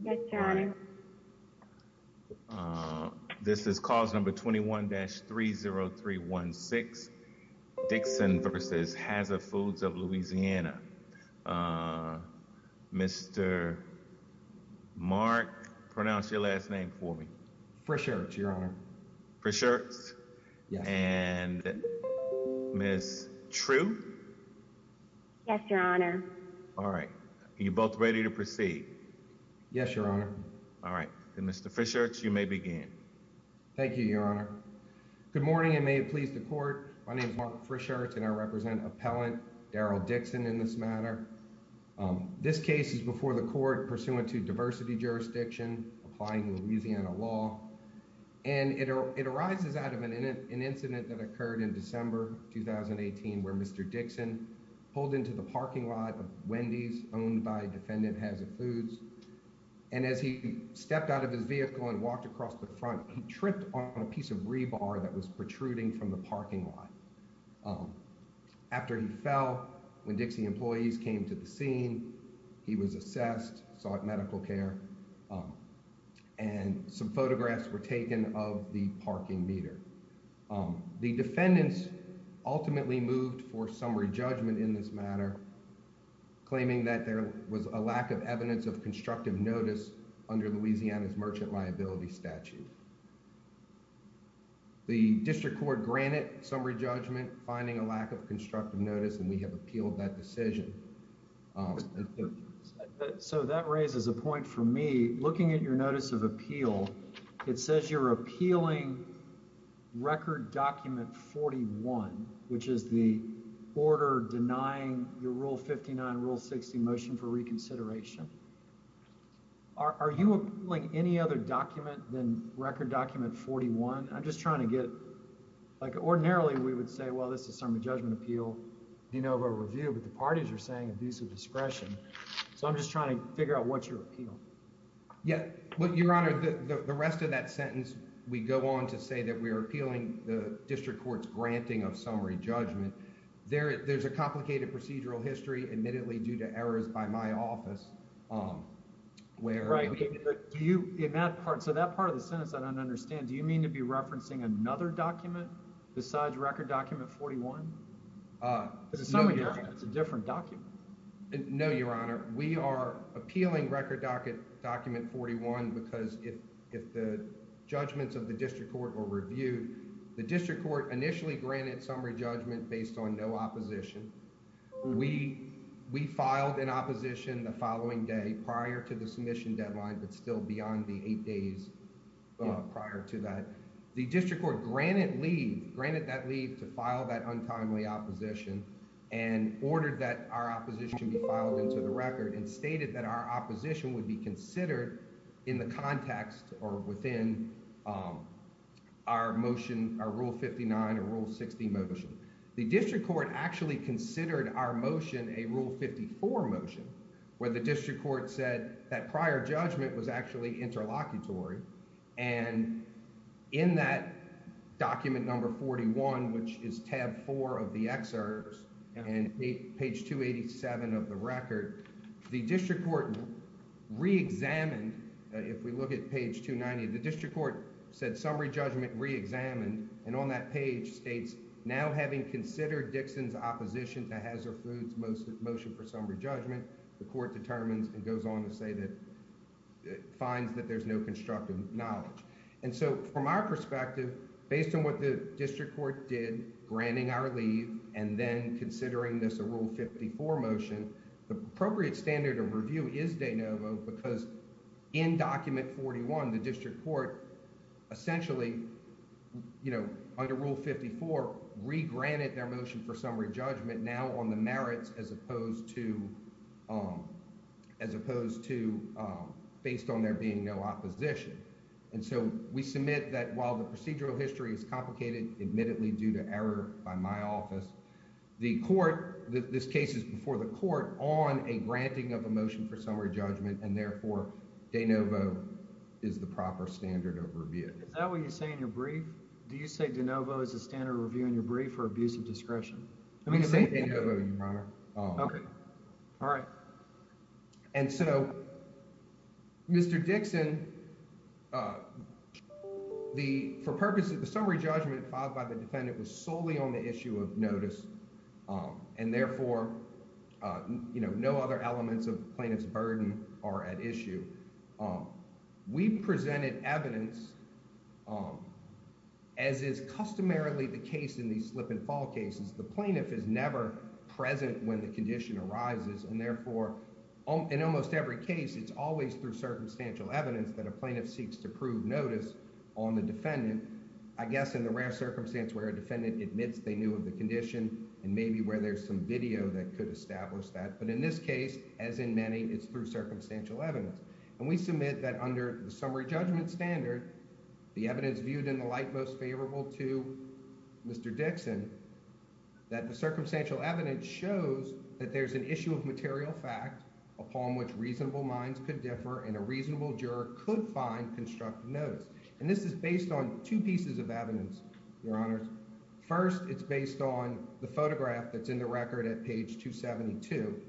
Yes your honor. This is cause number 21-30316 Dixon v. Haza Foods of Louisiana. Mr. Mark, pronounce your last name for me. Frischert, your honor. Frischert? Yes. And Ms. True? Yes your honor. All right. Are you both ready to proceed? Yes your honor. All right. Mr. Frischert, you may begin. Thank you your honor. Good morning and may it please the court. My name is Mark Frischert and I represent appellant Daryl Dixon in this matter. This case is before the court pursuant to diversity jurisdiction applying Louisiana law and it arises out of an incident that occurred in December 2018 where Mr. Dixon pulled into the parking lot of Wendy's owned by defendant Haza Foods and as he stepped out of his vehicle and walked across the front he tripped on a piece of rebar that was protruding from the parking lot. After he fell when Dixie employees came to the scene he was assessed, sought medical care and some photographs were taken of the parking meter. The defendants ultimately moved for summary judgment in this matter claiming that there was a lack of evidence of constructive notice under Louisiana's merchant liability statute. The district court granted summary judgment finding a lack of constructive notice and we have appealed that decision. So that raises a point for me. Looking at your notice of appeal it says you're appealing record document 41 which is the order denying your rule 59 rule 60 motion for reconsideration. Are you appealing any other document than record document 41? I'm just trying to get like ordinarily we would say well this is summary judgment appeal, you know of a review but the parties are saying abuse of discretion so I'm just trying to figure out what's your appeal. Yeah well your honor the the rest of that sentence we go on to say that we are appealing the district court's granting of summary judgment. There there's a complicated procedural history admittedly due to errors by my office um where right do you in that part so that part of the sentence I don't understand do you mean to be referencing another document besides record document 41? It's a different document. No your honor we are appealing record docket document 41 because if if the judgments of the district court were reviewed the district court initially granted summary judgment based on no opposition. We we filed an opposition the following day prior to the submission deadline but still beyond the eight days prior to that the district court granted leave granted that leave to file that untimely opposition and ordered that our opposition be filed into the record and stated that our opposition would be considered in the context or within our motion our rule 59 or rule 60 motion. The district court actually considered our motion a rule 54 motion where the district court said that prior judgment was actually interlocutory and in that document number 41 which is tab 4 of the excerpts and page 287 of the record the district court re-examined if we look at page 290 the district court said summary judgment re-examined and on that page states now having considered Dixon's opposition to Hazard Foods motion for summary judgment the court determines and goes on to say that it finds that there's no constructive knowledge and so from our perspective based on what the district court did granting our leave and then considering this a rule 54 motion the appropriate standard of review is de novo because in document 41 the district court essentially you know under rule 54 re-granted their motion for summary judgment now on the merits as opposed to based on there being no opposition and so we submit that while the procedural history is complicated admittedly due to error by my office the court this case is before the court on a granting of a motion for summary judgment and therefore de novo is the proper standard of review. Is that what you say in your brief? Do you say de novo is the standard review in your brief for abuse of discretion? I'm going to say de novo your honor. Okay, all right. And so Mr. Dixon the for purposes of the summary judgment filed by the defendant was solely on the issue of notice and therefore you know no other elements of plaintiff's burden are at issue. We presented evidence as is customarily the case in these slip and fall cases the plaintiff is never present when the condition arises and therefore in almost every case it's always through circumstantial evidence that a plaintiff seeks to prove notice on the defendant. I guess in the rare circumstance where a defendant admits they knew of the condition and maybe where there's some video that could establish that but in this case as in many it's through circumstantial evidence and we submit that under the summary judgment standard the evidence viewed in the light most favorable to Mr. Dixon that the circumstantial evidence shows that there's an issue of material fact upon which reasonable minds could differ and a reasonable juror could find constructive notice and this is based on two pieces of evidence your honors. First it's based on the photograph that's in the record at page 272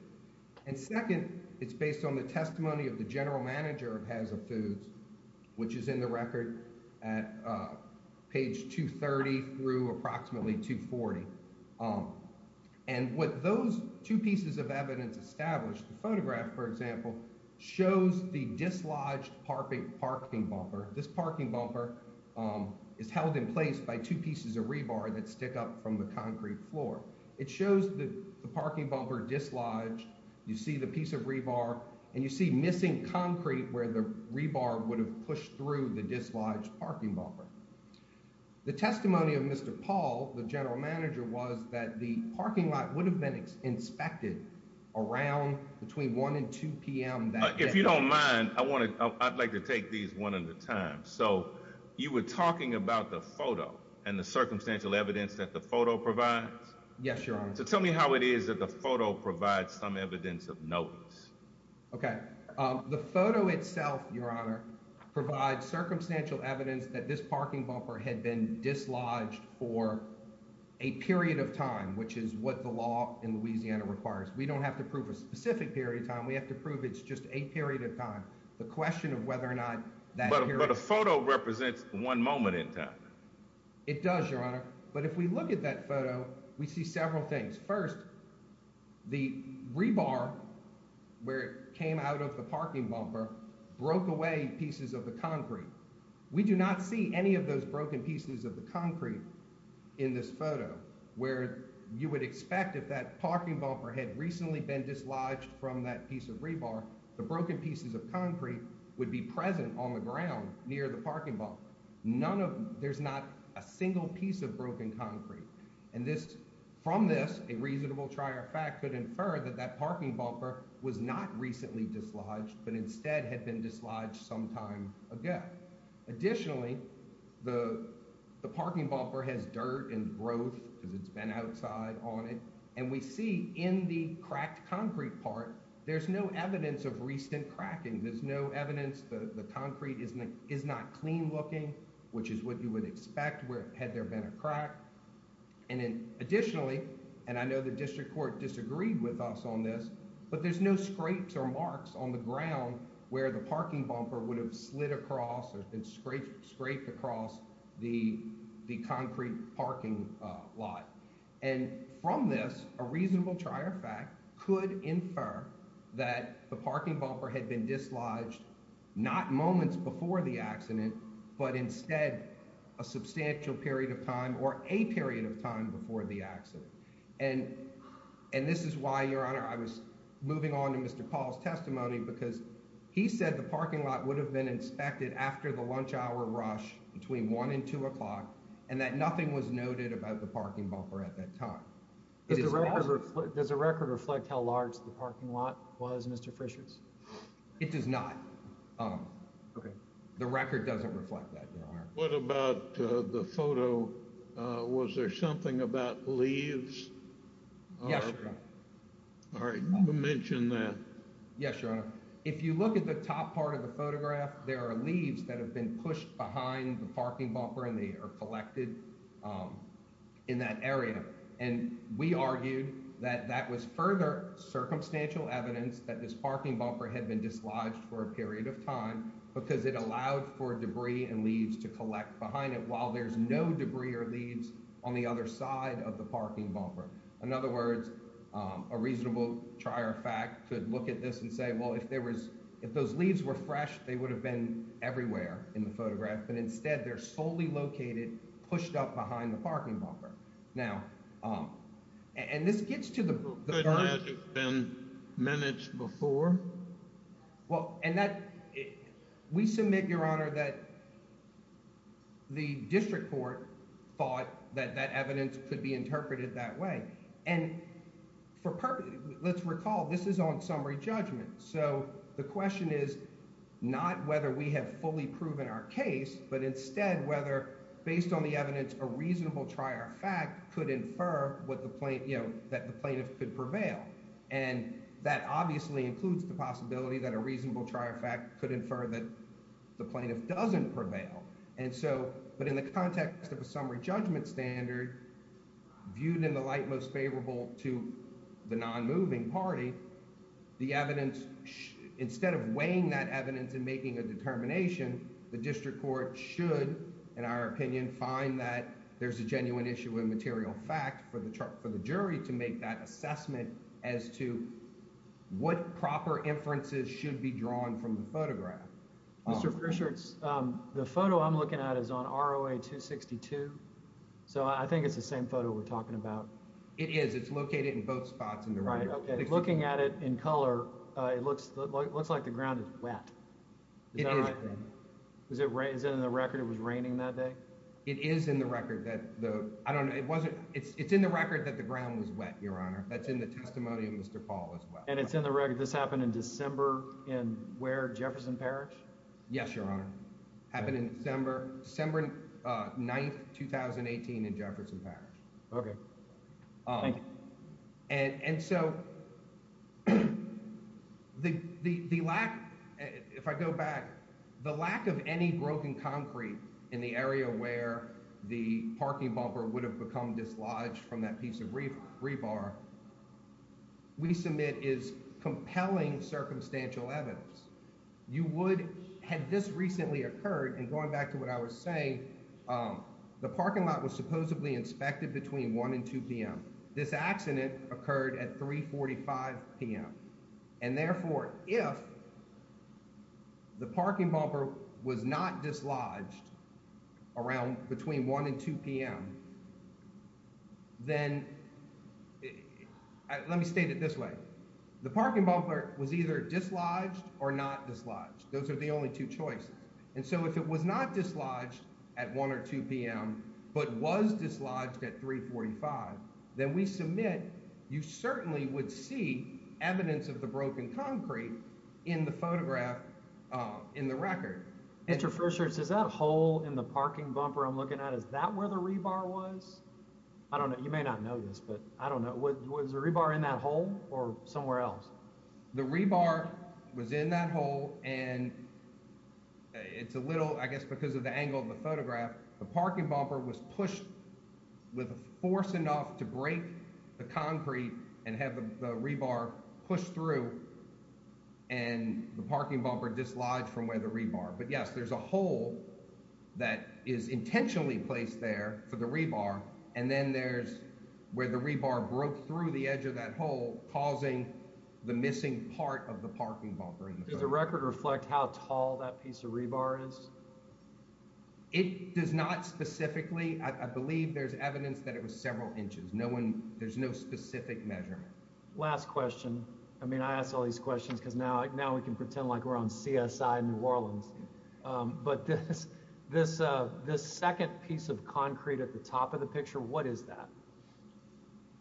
and second it's based on the testimony of the general manager of Hazza Foods which is in the record at page 230 through approximately 240 and what those two pieces of evidence established the photograph for example shows the dislodged parking bumper this parking bumper is held in place by two pieces of rebar that stick up from the concrete floor. It shows the parking bumper dislodged you see the piece of rebar and you see missing concrete where the rebar would have pushed through the dislodged parking bumper. The testimony of Mr. Paul the general manager was that the parking lot would have been inspected around between 1 and 2 p.m. That if you don't mind I want to I'd like to take these one at a time so you were talking about the provides? Yes your honor. So tell me how it is that the photo provides some evidence of notice. Okay the photo itself your honor provides circumstantial evidence that this parking bumper had been dislodged for a period of time which is what the law in Louisiana requires. We don't have to prove a specific period of time we have to prove it's just a period of time. The question of whether or not that but a photo represents one moment in time. It does your honor but if we look at that photo we see several things. First the rebar where it came out of the parking bumper broke away pieces of the concrete. We do not see any of those broken pieces of the concrete in this photo where you would expect if that parking bumper had recently been dislodged from that piece of rebar the broken pieces of concrete would be present on the ground near the parking bumper. None of there's not a single piece of broken concrete and this from this a reasonable trier fact could infer that that parking bumper was not recently dislodged but instead had been dislodged sometime again. Additionally the the parking bumper has dirt and growth because it's been outside on it and we see in the cracked concrete part there's no evidence of recent cracking there's no evidence the the concrete isn't is not clean looking which is what you would expect where had there been a crack and then additionally and I know the district court disagreed with us on this but there's no scrapes or marks on the ground where the parking bumper would have slid across or been scraped scraped across the the concrete parking lot and from this a reasonable trier fact could infer that the parking bumper had been dislodged not moments before the accident but instead a substantial period of time or a period of time before the accident and and this is why your honor I was moving on to Mr. Paul's testimony because he said the parking lot would have been inspected after the lunch hour rush between one and two o'clock and that nothing was noted about the parking bumper at that time does the record reflect how large the parking lot was Mr. Frischer's it does not um okay the record doesn't reflect that your honor what about uh the photo uh was there something about leaves yes all right mention that yes your honor if you look at the top part of the photograph there are leaves that have been pushed behind the parking bumper and they are collected um in that area and we argued that that was further circumstantial evidence that this parking bumper had been dislodged for a period of time because it allowed for debris and leaves to collect behind it while there's no debris or leaves on the other side of the parking bumper in other words a reasonable trier fact could look at this and say well if there was if those leaves were fresh they would have been everywhere in the photograph but instead they're solely located pushed up behind the parking bumper now um and this gets to the evidence before well and that we submit your honor that the district court thought that that evidence could be interpreted that way and for purpose let's recall this is on summary judgment so the question is not whether we have fully proven our case but instead whether based on the evidence a reasonable trier fact could infer what the plaint you know that the plaintiff could prevail and that obviously includes the possibility that a reasonable trier fact could infer that the plaintiff doesn't prevail and so but in the context of a summary judgment standard viewed in the light most favorable to the non-moving party the evidence instead of weighing that evidence and making a determination the district court should in our opinion find that there's a genuine issue with material fact for the chart for the jury to make that assessment as to what proper inferences should be drawn from the photograph mr fisher it's um the photo i'm looking at is on roa 262 so i think it's the right okay looking at it in color uh it looks like it looks like the ground is wet is that right is it rain is it in the record it was raining that day it is in the record that the i don't know it wasn't it's it's in the record that the ground was wet your honor that's in the testimony of mr paul as well and it's in the record this happened in december in where jefferson parish yes your honor happened in december december uh 9th 2018 in jefferson parish okay um and and so the the the lack if i go back the lack of any broken concrete in the area where the parking bumper would have become dislodged from that piece of reef rebar we submit is compelling circumstantial evidence you would had this recently occurred and going back to what i was saying um the parking lot was supposedly inspected between 1 and 2 p.m. this accident occurred at 3 45 p.m. and therefore if the parking bumper was not dislodged around between 1 and 2 p.m. then let me state it this way the parking bumper was either dislodged or not dislodged those are the only two choices and so if it was not dislodged at 1 or 2 p.m. but was dislodged at 3 45 then we submit you certainly would see evidence of the broken concrete in the photograph uh in the record interferes is that hole in the parking bumper i'm looking at is that where the rebar was i don't know you may not know this but i don't know what was the rebar in that hole or somewhere else the rebar was in that hole and it's a little i guess because of the angle of the photograph the parking bumper was pushed with a force enough to break the concrete and have the rebar pushed through and the parking bumper dislodged from where the rebar but yes there's a hole that is intentionally placed there for the rebar and then there's where the rebar broke through the edge of that hole causing the missing part of the parking bumper does the record reflect how tall that piece of rebar is it does not specifically i believe there's evidence that it was several inches no one there's no specific measurement last question i mean i ask all these questions because now now we can pretend like we're on csi new orleans um but this this uh piece of concrete at the top of the picture what is that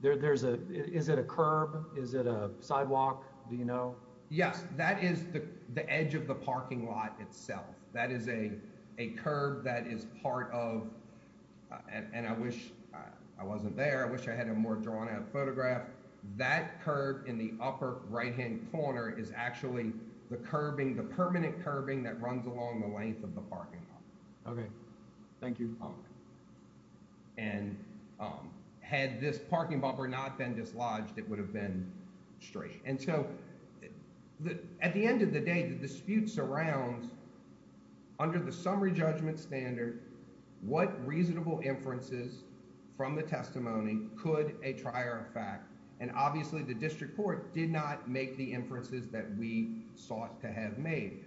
there there's a is it a curb is it a sidewalk do you know yes that is the the edge of the parking lot itself that is a a curve that is part of and i wish i wasn't there i wish i had a more drawn out photograph that curve in the upper right hand corner is actually the curbing the permanent curbing that runs along the length of okay thank you um and um had this parking bumper not been dislodged it would have been straight and so the at the end of the day the dispute surrounds under the summary judgment standard what reasonable inferences from the testimony could a trier effect and obviously the district court did not make the inferences that we sought to have made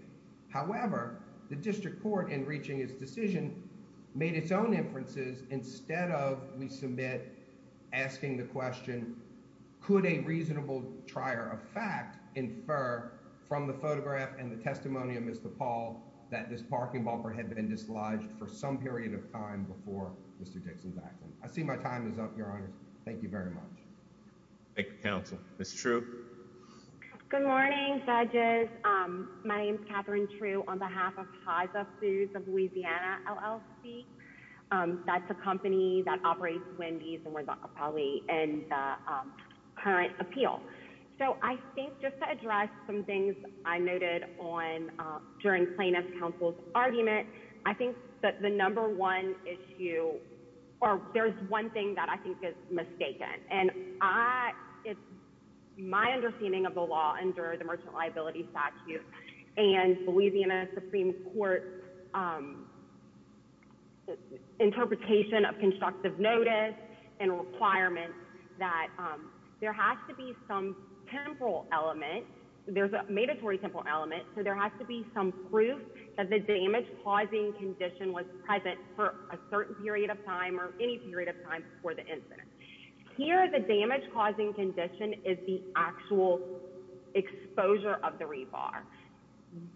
however the district court in reaching its decision made its own inferences instead of we submit asking the question could a reasonable trier of fact infer from the photograph and the testimony of mr paul that this parking bumper had been dislodged for some period of time before mr dixon's your honor thank you very much thank you counsel miss true good morning judges um my name is katherine true on behalf of haza foods of louisiana llc um that's a company that operates wendy's and we're probably in the current appeal so i think just to address some things i noted on uh during plaintiff counsel's argument i think that the number one issue or there's one thing that i think is mistaken and i it's my understanding of the law under the merchant liability statute and louisiana supreme court um interpretation of constructive notice and requirements that um there has to be some temporal element there's a mandatory simple element so there has to be some proof that the damage causing condition was present for a certain period of time or any period of time before the incident here the damage causing condition is the actual exposure of the rebar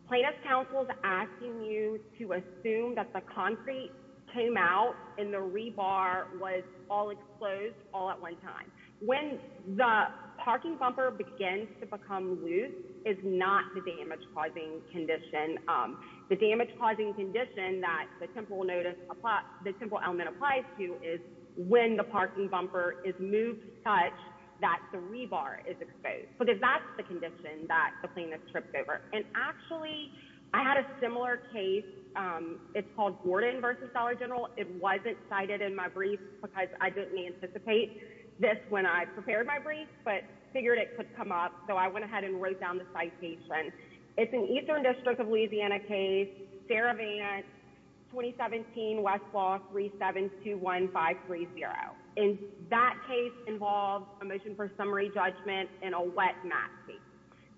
plaintiff counsel's asking you to assume that the concrete came out and the rebar was all exposed all at one time when the parking bumper begins to become loose is not the damage causing condition um the damage causing condition that the temporal notice applies the simple element applies to is when the parking bumper is moved such that the rebar is exposed because that's the condition that the plaintiff tripped over and actually i had a similar case um it's called gordon versus dollar general it wasn't cited in my brief because i didn't anticipate this when i prepared my brief but figured it could come up so i went ahead and wrote down the citation it's an eastern district of louisiana case sarah vance 2017 westlaw 3721530 and that case involves a motion for summary judgment and a wet mat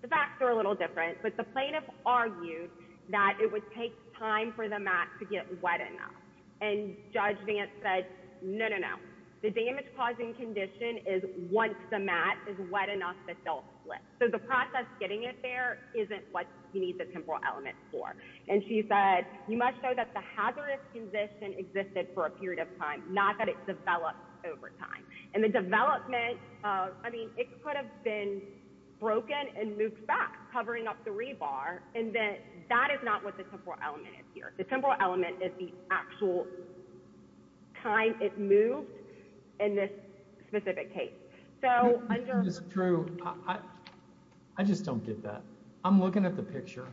the facts are a little different but the plaintiff argued that it would take time for the mat to get wet enough and judge vance said no no the damage causing condition is once the mat is wet enough that they'll slip so the process getting it there isn't what you need the temporal element for and she said you must show that the hazardous condition existed for a period of time not that it developed over time and the development uh i mean it could have been broken and moved back covering up the rebar and then that is not what the temporal element is here the temporal element is the actual time it moved in this specific case so under this true i i just don't get that i'm looking at the picture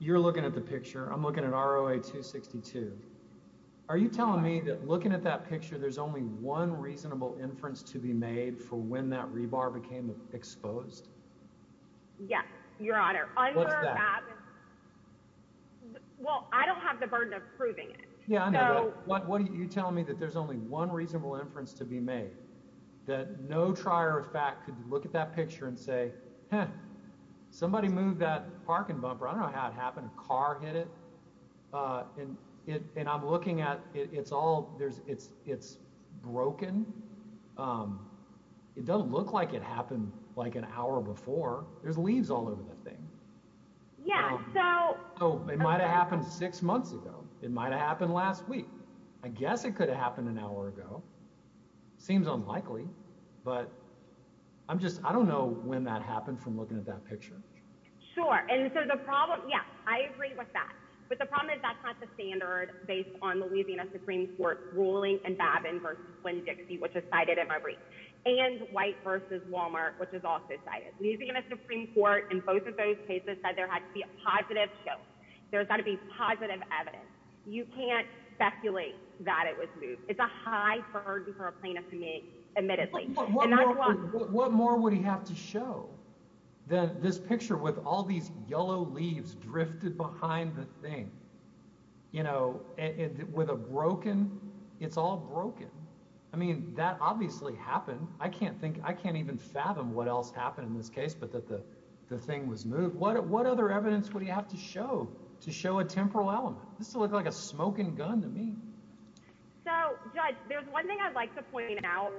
you're looking at the picture i'm looking at roa 262 are you telling me that looking at that picture there's only one reasonable inference to be made for when that rebar became exposed yes your honor well i don't have the burden of proving it yeah i know what what are you telling me that there's only one reasonable inference to be made that no trier of fact could look at that picture and say somebody moved that parking bumper i don't know how it happened a car hit it uh and it and i'm looking at it it's all there's it's it's broken um it doesn't look like it happened like an hour before there's leaves all over the thing yeah so oh it might have happened six months ago it might have happened last week i guess it could have happened an hour ago seems unlikely but i'm just i don't know when that happened from looking at that picture sure and so the problem yeah i agree with that but the problem is that's not the standard based on louisiana supreme court ruling and babin versus winn dixie which is cited in my brief and white versus walmart which is also cited louisiana supreme court in both of those cases said there had to be a positive show there's got to be positive evidence you can't speculate that it was moved it's a high burden for a plaintiff to make admittedly what more would he have to show that this picture with all these yellow leaves drifted behind the thing you know with a broken it's all broken i mean that obviously happened i can't think i can't even fathom what else happened in this case but that the the thing was moved what what other evidence would you have to show to show a temporal element this looked like a smoking gun to me so judge there's one thing i'd like to point out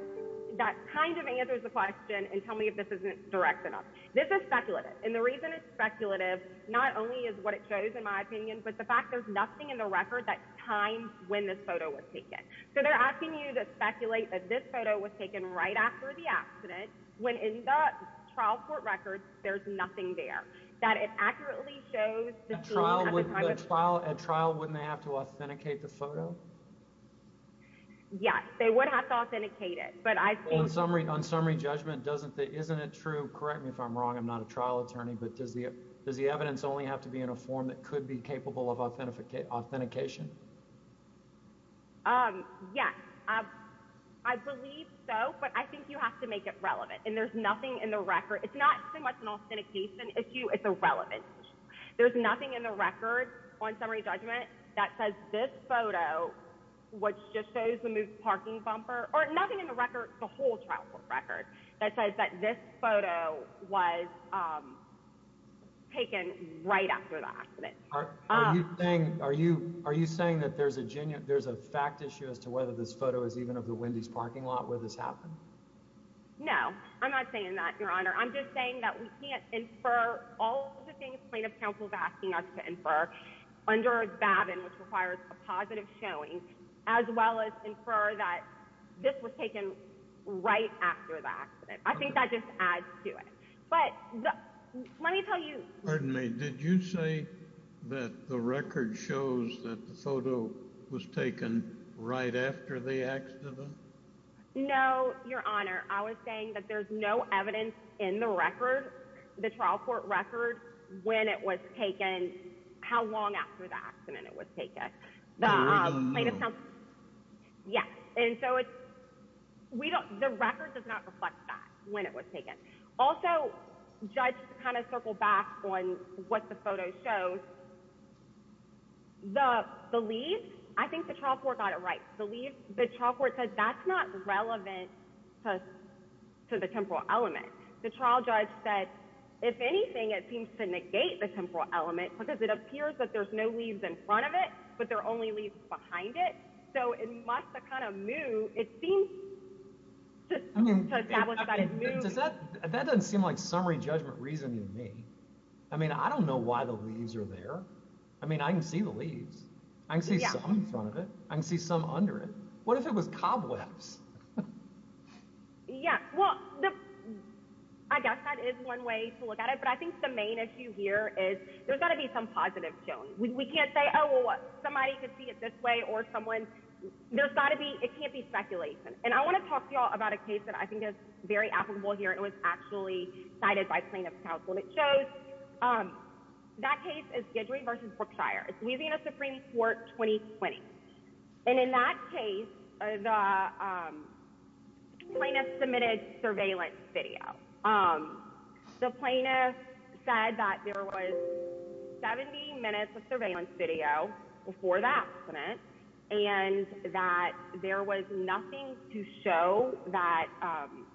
that kind of answers the question and tell me if this isn't direct enough this is speculative and the reason it's speculative not only is what it shows in my opinion but the fact there's nothing in the record that times when this photo was taken so they're asking you to speculate that this photo was taken right after the accident when in the trial court records there's nothing there that it accurately shows the trial trial at trial wouldn't they have to authenticate the photo yes they would have to authenticate it but i think on summary on summary judgment doesn't that isn't it true correct me if i'm wrong i'm it could be capable of authentication authentication um yes i believe so but i think you have to make it relevant and there's nothing in the record it's not so much an authentication issue it's irrelevant there's nothing in the record on summary judgment that says this photo which just shows the moved parking bumper or nothing in the record the whole trial court record that says that this photo was um taken right after the accident are you saying are you are you saying that there's a genuine there's a fact issue as to whether this photo is even of the wendy's parking lot where this happened no i'm not saying that your honor i'm just saying that we can't infer all the things plaintiff counsel is asking us to infer under bavin which i think that just adds to it but let me tell you pardon me did you say that the record shows that the photo was taken right after the accident no your honor i was saying that there's no evidence in the record the trial court record when it was taken how long after the accident it was taken um yes and so it's we don't the record does not reflect that when it was taken also judge to kind of circle back on what the photo shows the the leaves i think the trial court got it right the leaves the trial court said that's not relevant to to the temporal element the trial judge said if anything it seems to negate the temporal element because it appears that there's no leaves in front of it but there are only leaves behind it so it must have kind of moved it seems to establish that it moves does that that doesn't seem like summary judgment reasoning to me i mean i don't know why the leaves are there i mean i can see the leaves i can see something in front of it i can see some under it what if it was cobwebs yeah well i guess that is one way to look at it but i think the main issue here is there's got to be some positive showing we can't say oh well what somebody could see it this way or someone there's got to be it can't be speculation and i want to talk to you all about a case that i think is very applicable here it was actually cited by plaintiff's counsel it shows um that case is gedry versus brookshire it's weaving a supreme court 2020 and in that case the plaintiff submitted surveillance video um the plaintiff said that there was 70 minutes of surveillance video before the accident and that there was nothing to show that um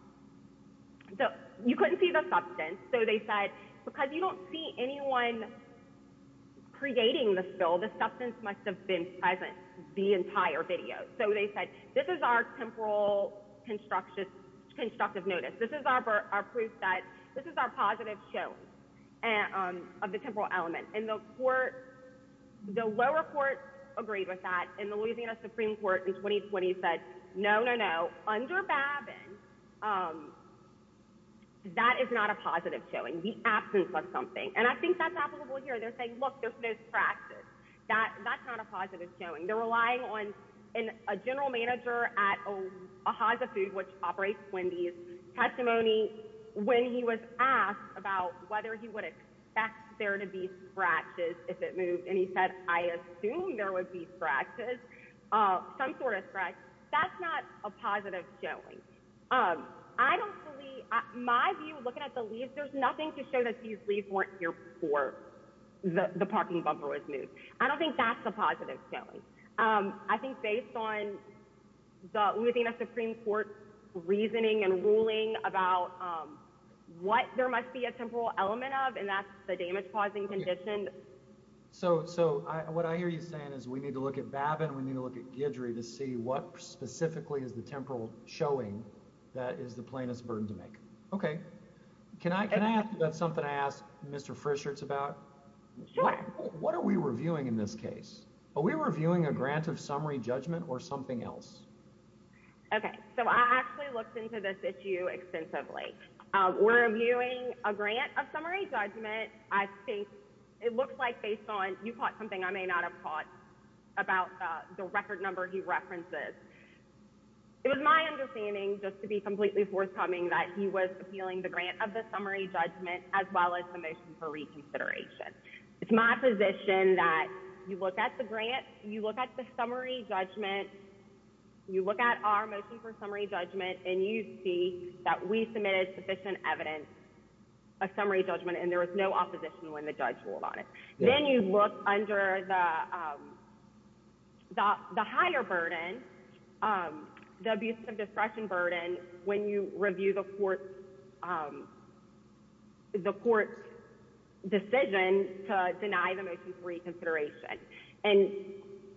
so you couldn't see the substance so they said because you don't see anyone creating the spill the substance must have been present the entire video so they said this is our temporal construction constructive notice this is our proof that this is our positive showing and um of the temporal element and the court the lower court agreed with that and the louisiana supreme court in 2020 said no no no under babin um that is not a positive showing the absence of something and i think that's applicable here they're saying look there's no scratches that that's not a positive showing they're relying on in a general manager at a haza food which operates wendy's testimony when he was asked about whether he would expect there to be scratches if it moved and he said i assume there would be scratches uh some sort of scratch that's not a positive showing um i don't believe my view looking at the leaves there's nothing to show that these leaves weren't here before the the parking bumper was moved i don't think that's a positive showing um i think based on the louisiana supreme court reasoning and ruling about um what there must be a temporal element of and that's the damage causing condition so so i what i hear you saying is we need to look at babin we need to look at gidry to see what specifically is the temporal showing that is the plainest burden to make okay can i can i ask that's something i asked mr frischerts about sure what are we reviewing in this case are we reviewing a grant of summary judgment or something else okay so i actually looked into this issue extensively uh we're reviewing a grant of summary judgment i think it looks like based on you caught this it was my understanding just to be completely forthcoming that he was appealing the grant of the summary judgment as well as the motion for reconsideration it's my position that you look at the grant you look at the summary judgment you look at our motion for summary judgment and you see that we submitted sufficient evidence a summary judgment and there was no opposition when the judge ruled on it then you look under the um the higher burden um the abuse of discretion burden when you review the court um the court's decision to deny the motion for reconsideration and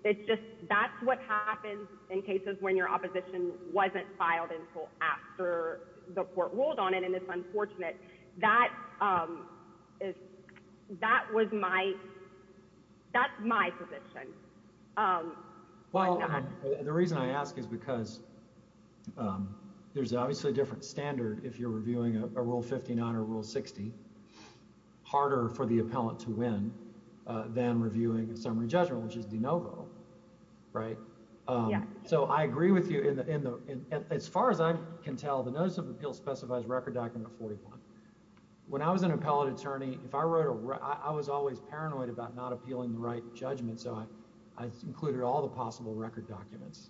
it's just that's what happens in cases when your opposition wasn't filed until after the court ruled on it and it's unfortunate that um that was my that's my position um well the reason i ask is because um there's obviously a different standard if you're reviewing a rule 59 or rule 60 harder for the appellant to win uh than reviewing a summary judgment which is de novo right yeah so i agree with you in the in the as far as i can tell the notice of appeal specifies record document 41 when i was an appellate attorney if i wrote a i was always paranoid about not appealing the right judgment so i i included all the possible record documents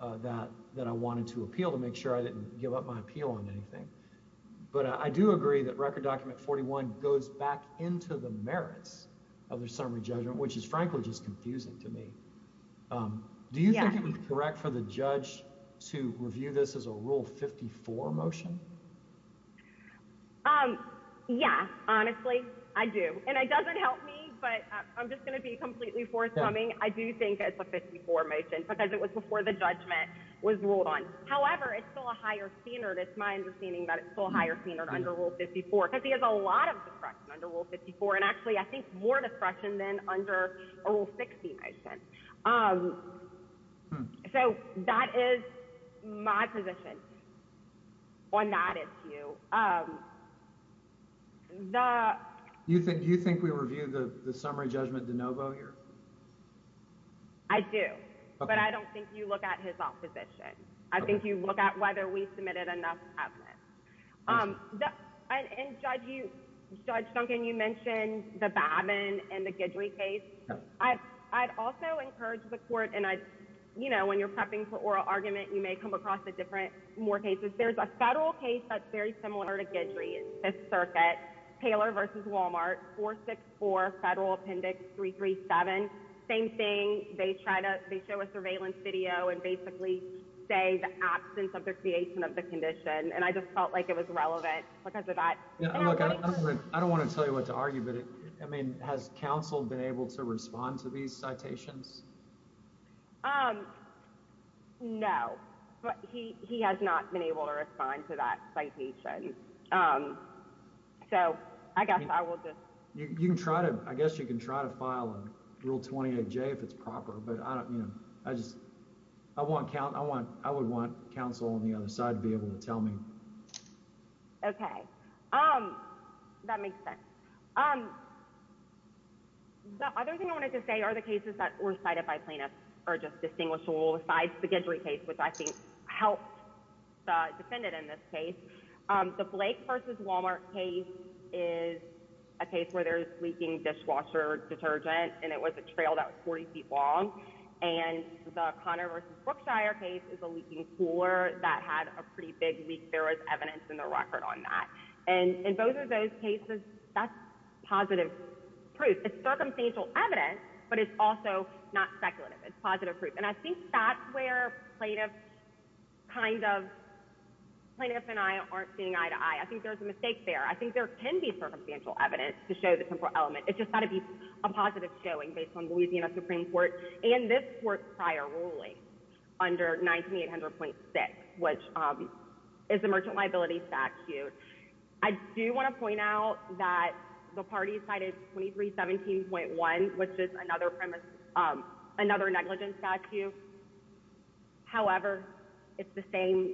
uh that that i wanted to appeal to make sure i didn't give up my appeal on anything but i do agree that record document 41 goes back into the merits of the summary judgment which is um do you think it was correct for the judge to review this as a rule 54 motion um yeah honestly i do and it doesn't help me but i'm just going to be completely forthcoming i do think it's a 54 motion because it was before the judgment was ruled on however it's still a higher standard it's my understanding that it's still a higher standard under rule 54 because he has a lot of discretion under rule 54 and actually i think more discretion than under rule 60 i sense um so that is my position on that issue um the you think you think we review the the summary judgment de novo here i do but i don't think you look at his opposition i think you look at whether we submitted enough um and judge you judge duncan you mentioned the babin and the gidley case i've i've also encouraged the court and i you know when you're prepping for oral argument you may come across the different more cases there's a federal case that's very similar to gidley it's circuit taylor versus walmart 464 federal appendix 337 same thing they try to they show a surveillance video and basically say the absence of their creation of the condition and i just felt like it was relevant because of that yeah look i don't want to tell you what to argue but i mean has council been able to respond to these citations um no but he he has not been able to respond to that citation um so i guess i will just you can try to i guess you can try to i won't count i want i would want council on the other side to be able to tell me okay um that makes sense um the other thing i wanted to say are the cases that were cited by plaintiffs are just distinguishable besides the gendry case which i think helped the defendant in this case um the blake versus walmart case is a case where there's leaking dishwasher detergent and it was a trail that was 40 feet long and the connor versus brookshire case is a leaking cooler that had a pretty big leak there was evidence in the record on that and in both of those cases that's positive proof it's circumstantial evidence but it's also not speculative it's positive proof and i think that's where plaintiff kind of plaintiff and i aren't seeing eye to eye i think there's a mistake there i think there can be circumstantial evidence to a positive showing based on louisiana supreme court and this court prior ruling under 1900.6 which um is a merchant liability statute i do want to point out that the party cited 23 17.1 which is another premise um another negligence statute however it's the same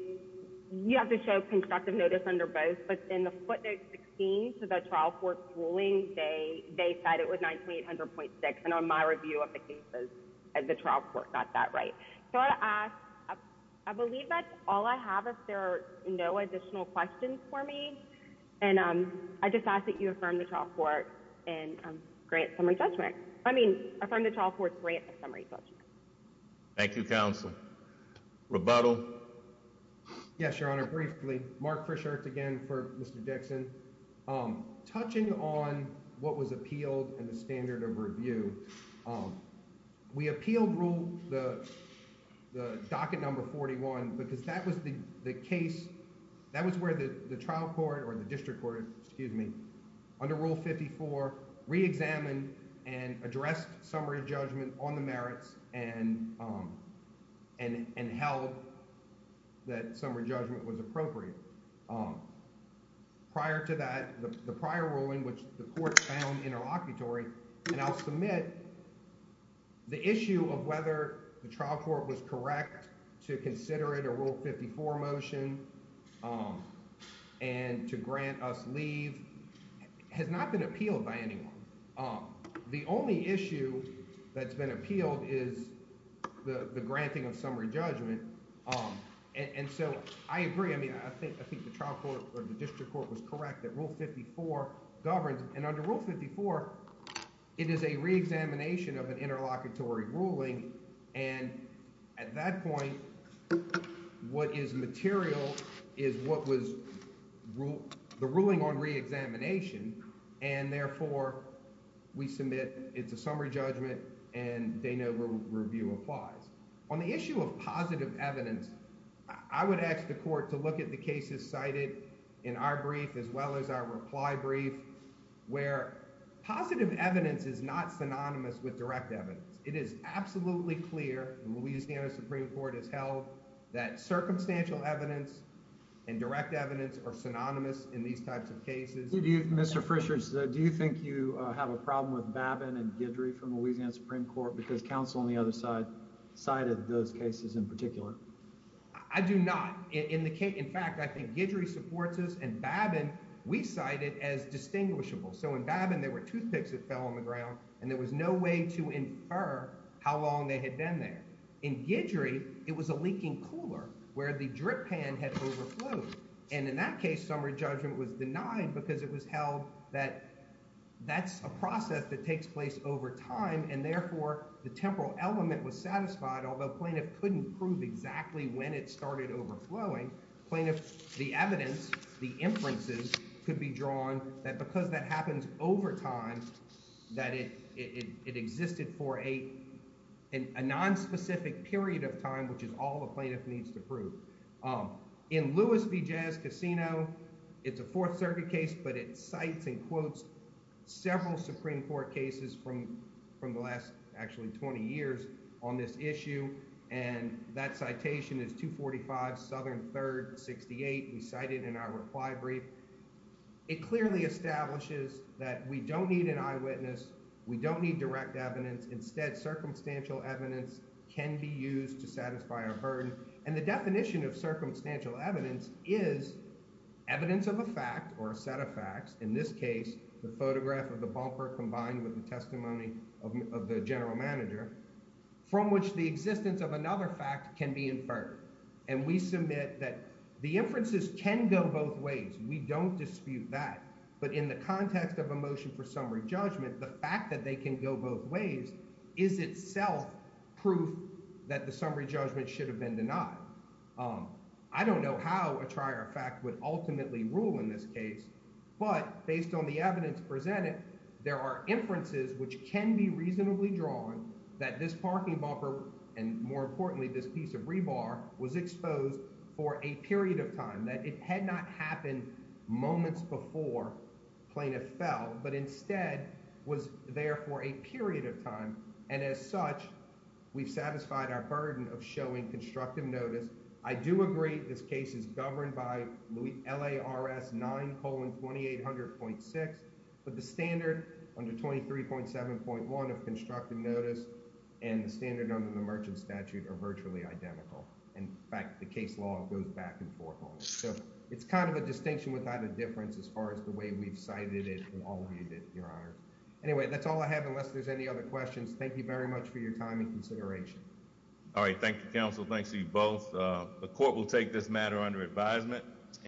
you have to show constructive notice under both but in the footnote 16 to the trial court ruling they they said it was 1900.6 and on my review of the cases as the trial court got that right so i asked i believe that's all i have if there are no additional questions for me and um i just ask that you affirm the trial court and grant summary judgment i mean affirm the trial court grant a summary judgment thank you counsel rebuttal yes your honor briefly mark fresh earth again for mr dixon um touching on what was appealed and the standard of review we appealed rule the the docket number 41 because that was the the case that was where the the trial court or the district court excuse me under rule 54 re-examined and addressed summary judgment on the merits and um and and held that summary judgment was appropriate um prior to that the prior ruling which the court found interlocutory and i'll submit the issue of whether the trial court was correct to consider it a rule 54 motion um and to grant us leave has not been appealed by anyone um the only issue that's been appealed is the the granting of summary judgment um and so i agree i mean i think i think the trial court or the district court was correct that rule 54 governs and under rule 54 it is a re-examination of an interlocutory ruling and at that point what is material is what was the ruling on re-examination and therefore we submit it's a summary judgment and they know review applies on the issue of positive evidence i would ask the court to look at the cases cited in our brief as well as our reply brief where positive evidence is not synonymous with direct evidence it is absolutely clear the louisiana supreme court has held that circumstantial evidence and direct evidence are synonymous in these types of cases do you mr frishers do you think you have a problem with babin and gidry from louisiana supreme court because counsel on the other side cited those cases in particular i do not in the case in fact i think gidry supports us and babin we cite it as distinguishable so in babin there were toothpicks that fell on the ground and there was no way to infer how long they had been there in gidry it was a leaking cooler where the drip pan had overflowed and in that case summary judgment was denied because it was held that that's a process that takes place over time and therefore the temporal element was satisfied although plaintiff couldn't prove exactly when it started overflowing plaintiff the evidence the inferences could be drawn that because that happens over time that it it existed for a in a non-specific period of time which is all the plaintiff needs to prove in lewis v jazz casino it's a fourth circuit case but it cites and quotes several supreme court cases from from the last actually 20 years on this issue and that citation is 245 southern 3rd 68 we cited in our reply brief it clearly establishes that we don't need an eyewitness we don't need direct evidence instead circumstantial evidence can be used to satisfy and the definition of circumstantial evidence is evidence of a fact or a set of facts in this case the photograph of the bumper combined with the testimony of the general manager from which the existence of another fact can be inferred and we submit that the inferences can go both ways we don't dispute that but in the context of a motion for summary judgment the fact that they can go both ways is itself proof that the summary judgment should have been denied i don't know how a trier fact would ultimately rule in this case but based on the evidence presented there are inferences which can be reasonably drawn that this parking bumper and more importantly this piece of rebar was exposed for a period of time that it had not happened moments before plaintiff fell but instead was there for a period of time and as such we've satisfied our burden of showing constructive notice i do agree this case is governed by louis lars 9 colon 2800.6 but the standard under 23.7.1 of constructive notice and the standard under the merchant statute are virtually identical in fact the case law goes back and forth so it's a distinction without a difference as far as the way we've cited it from all of you that your honor anyway that's all i have unless there's any other questions thank you very much for your time and consideration all right thank you counsel thanks to you both the court will take this matter under advisement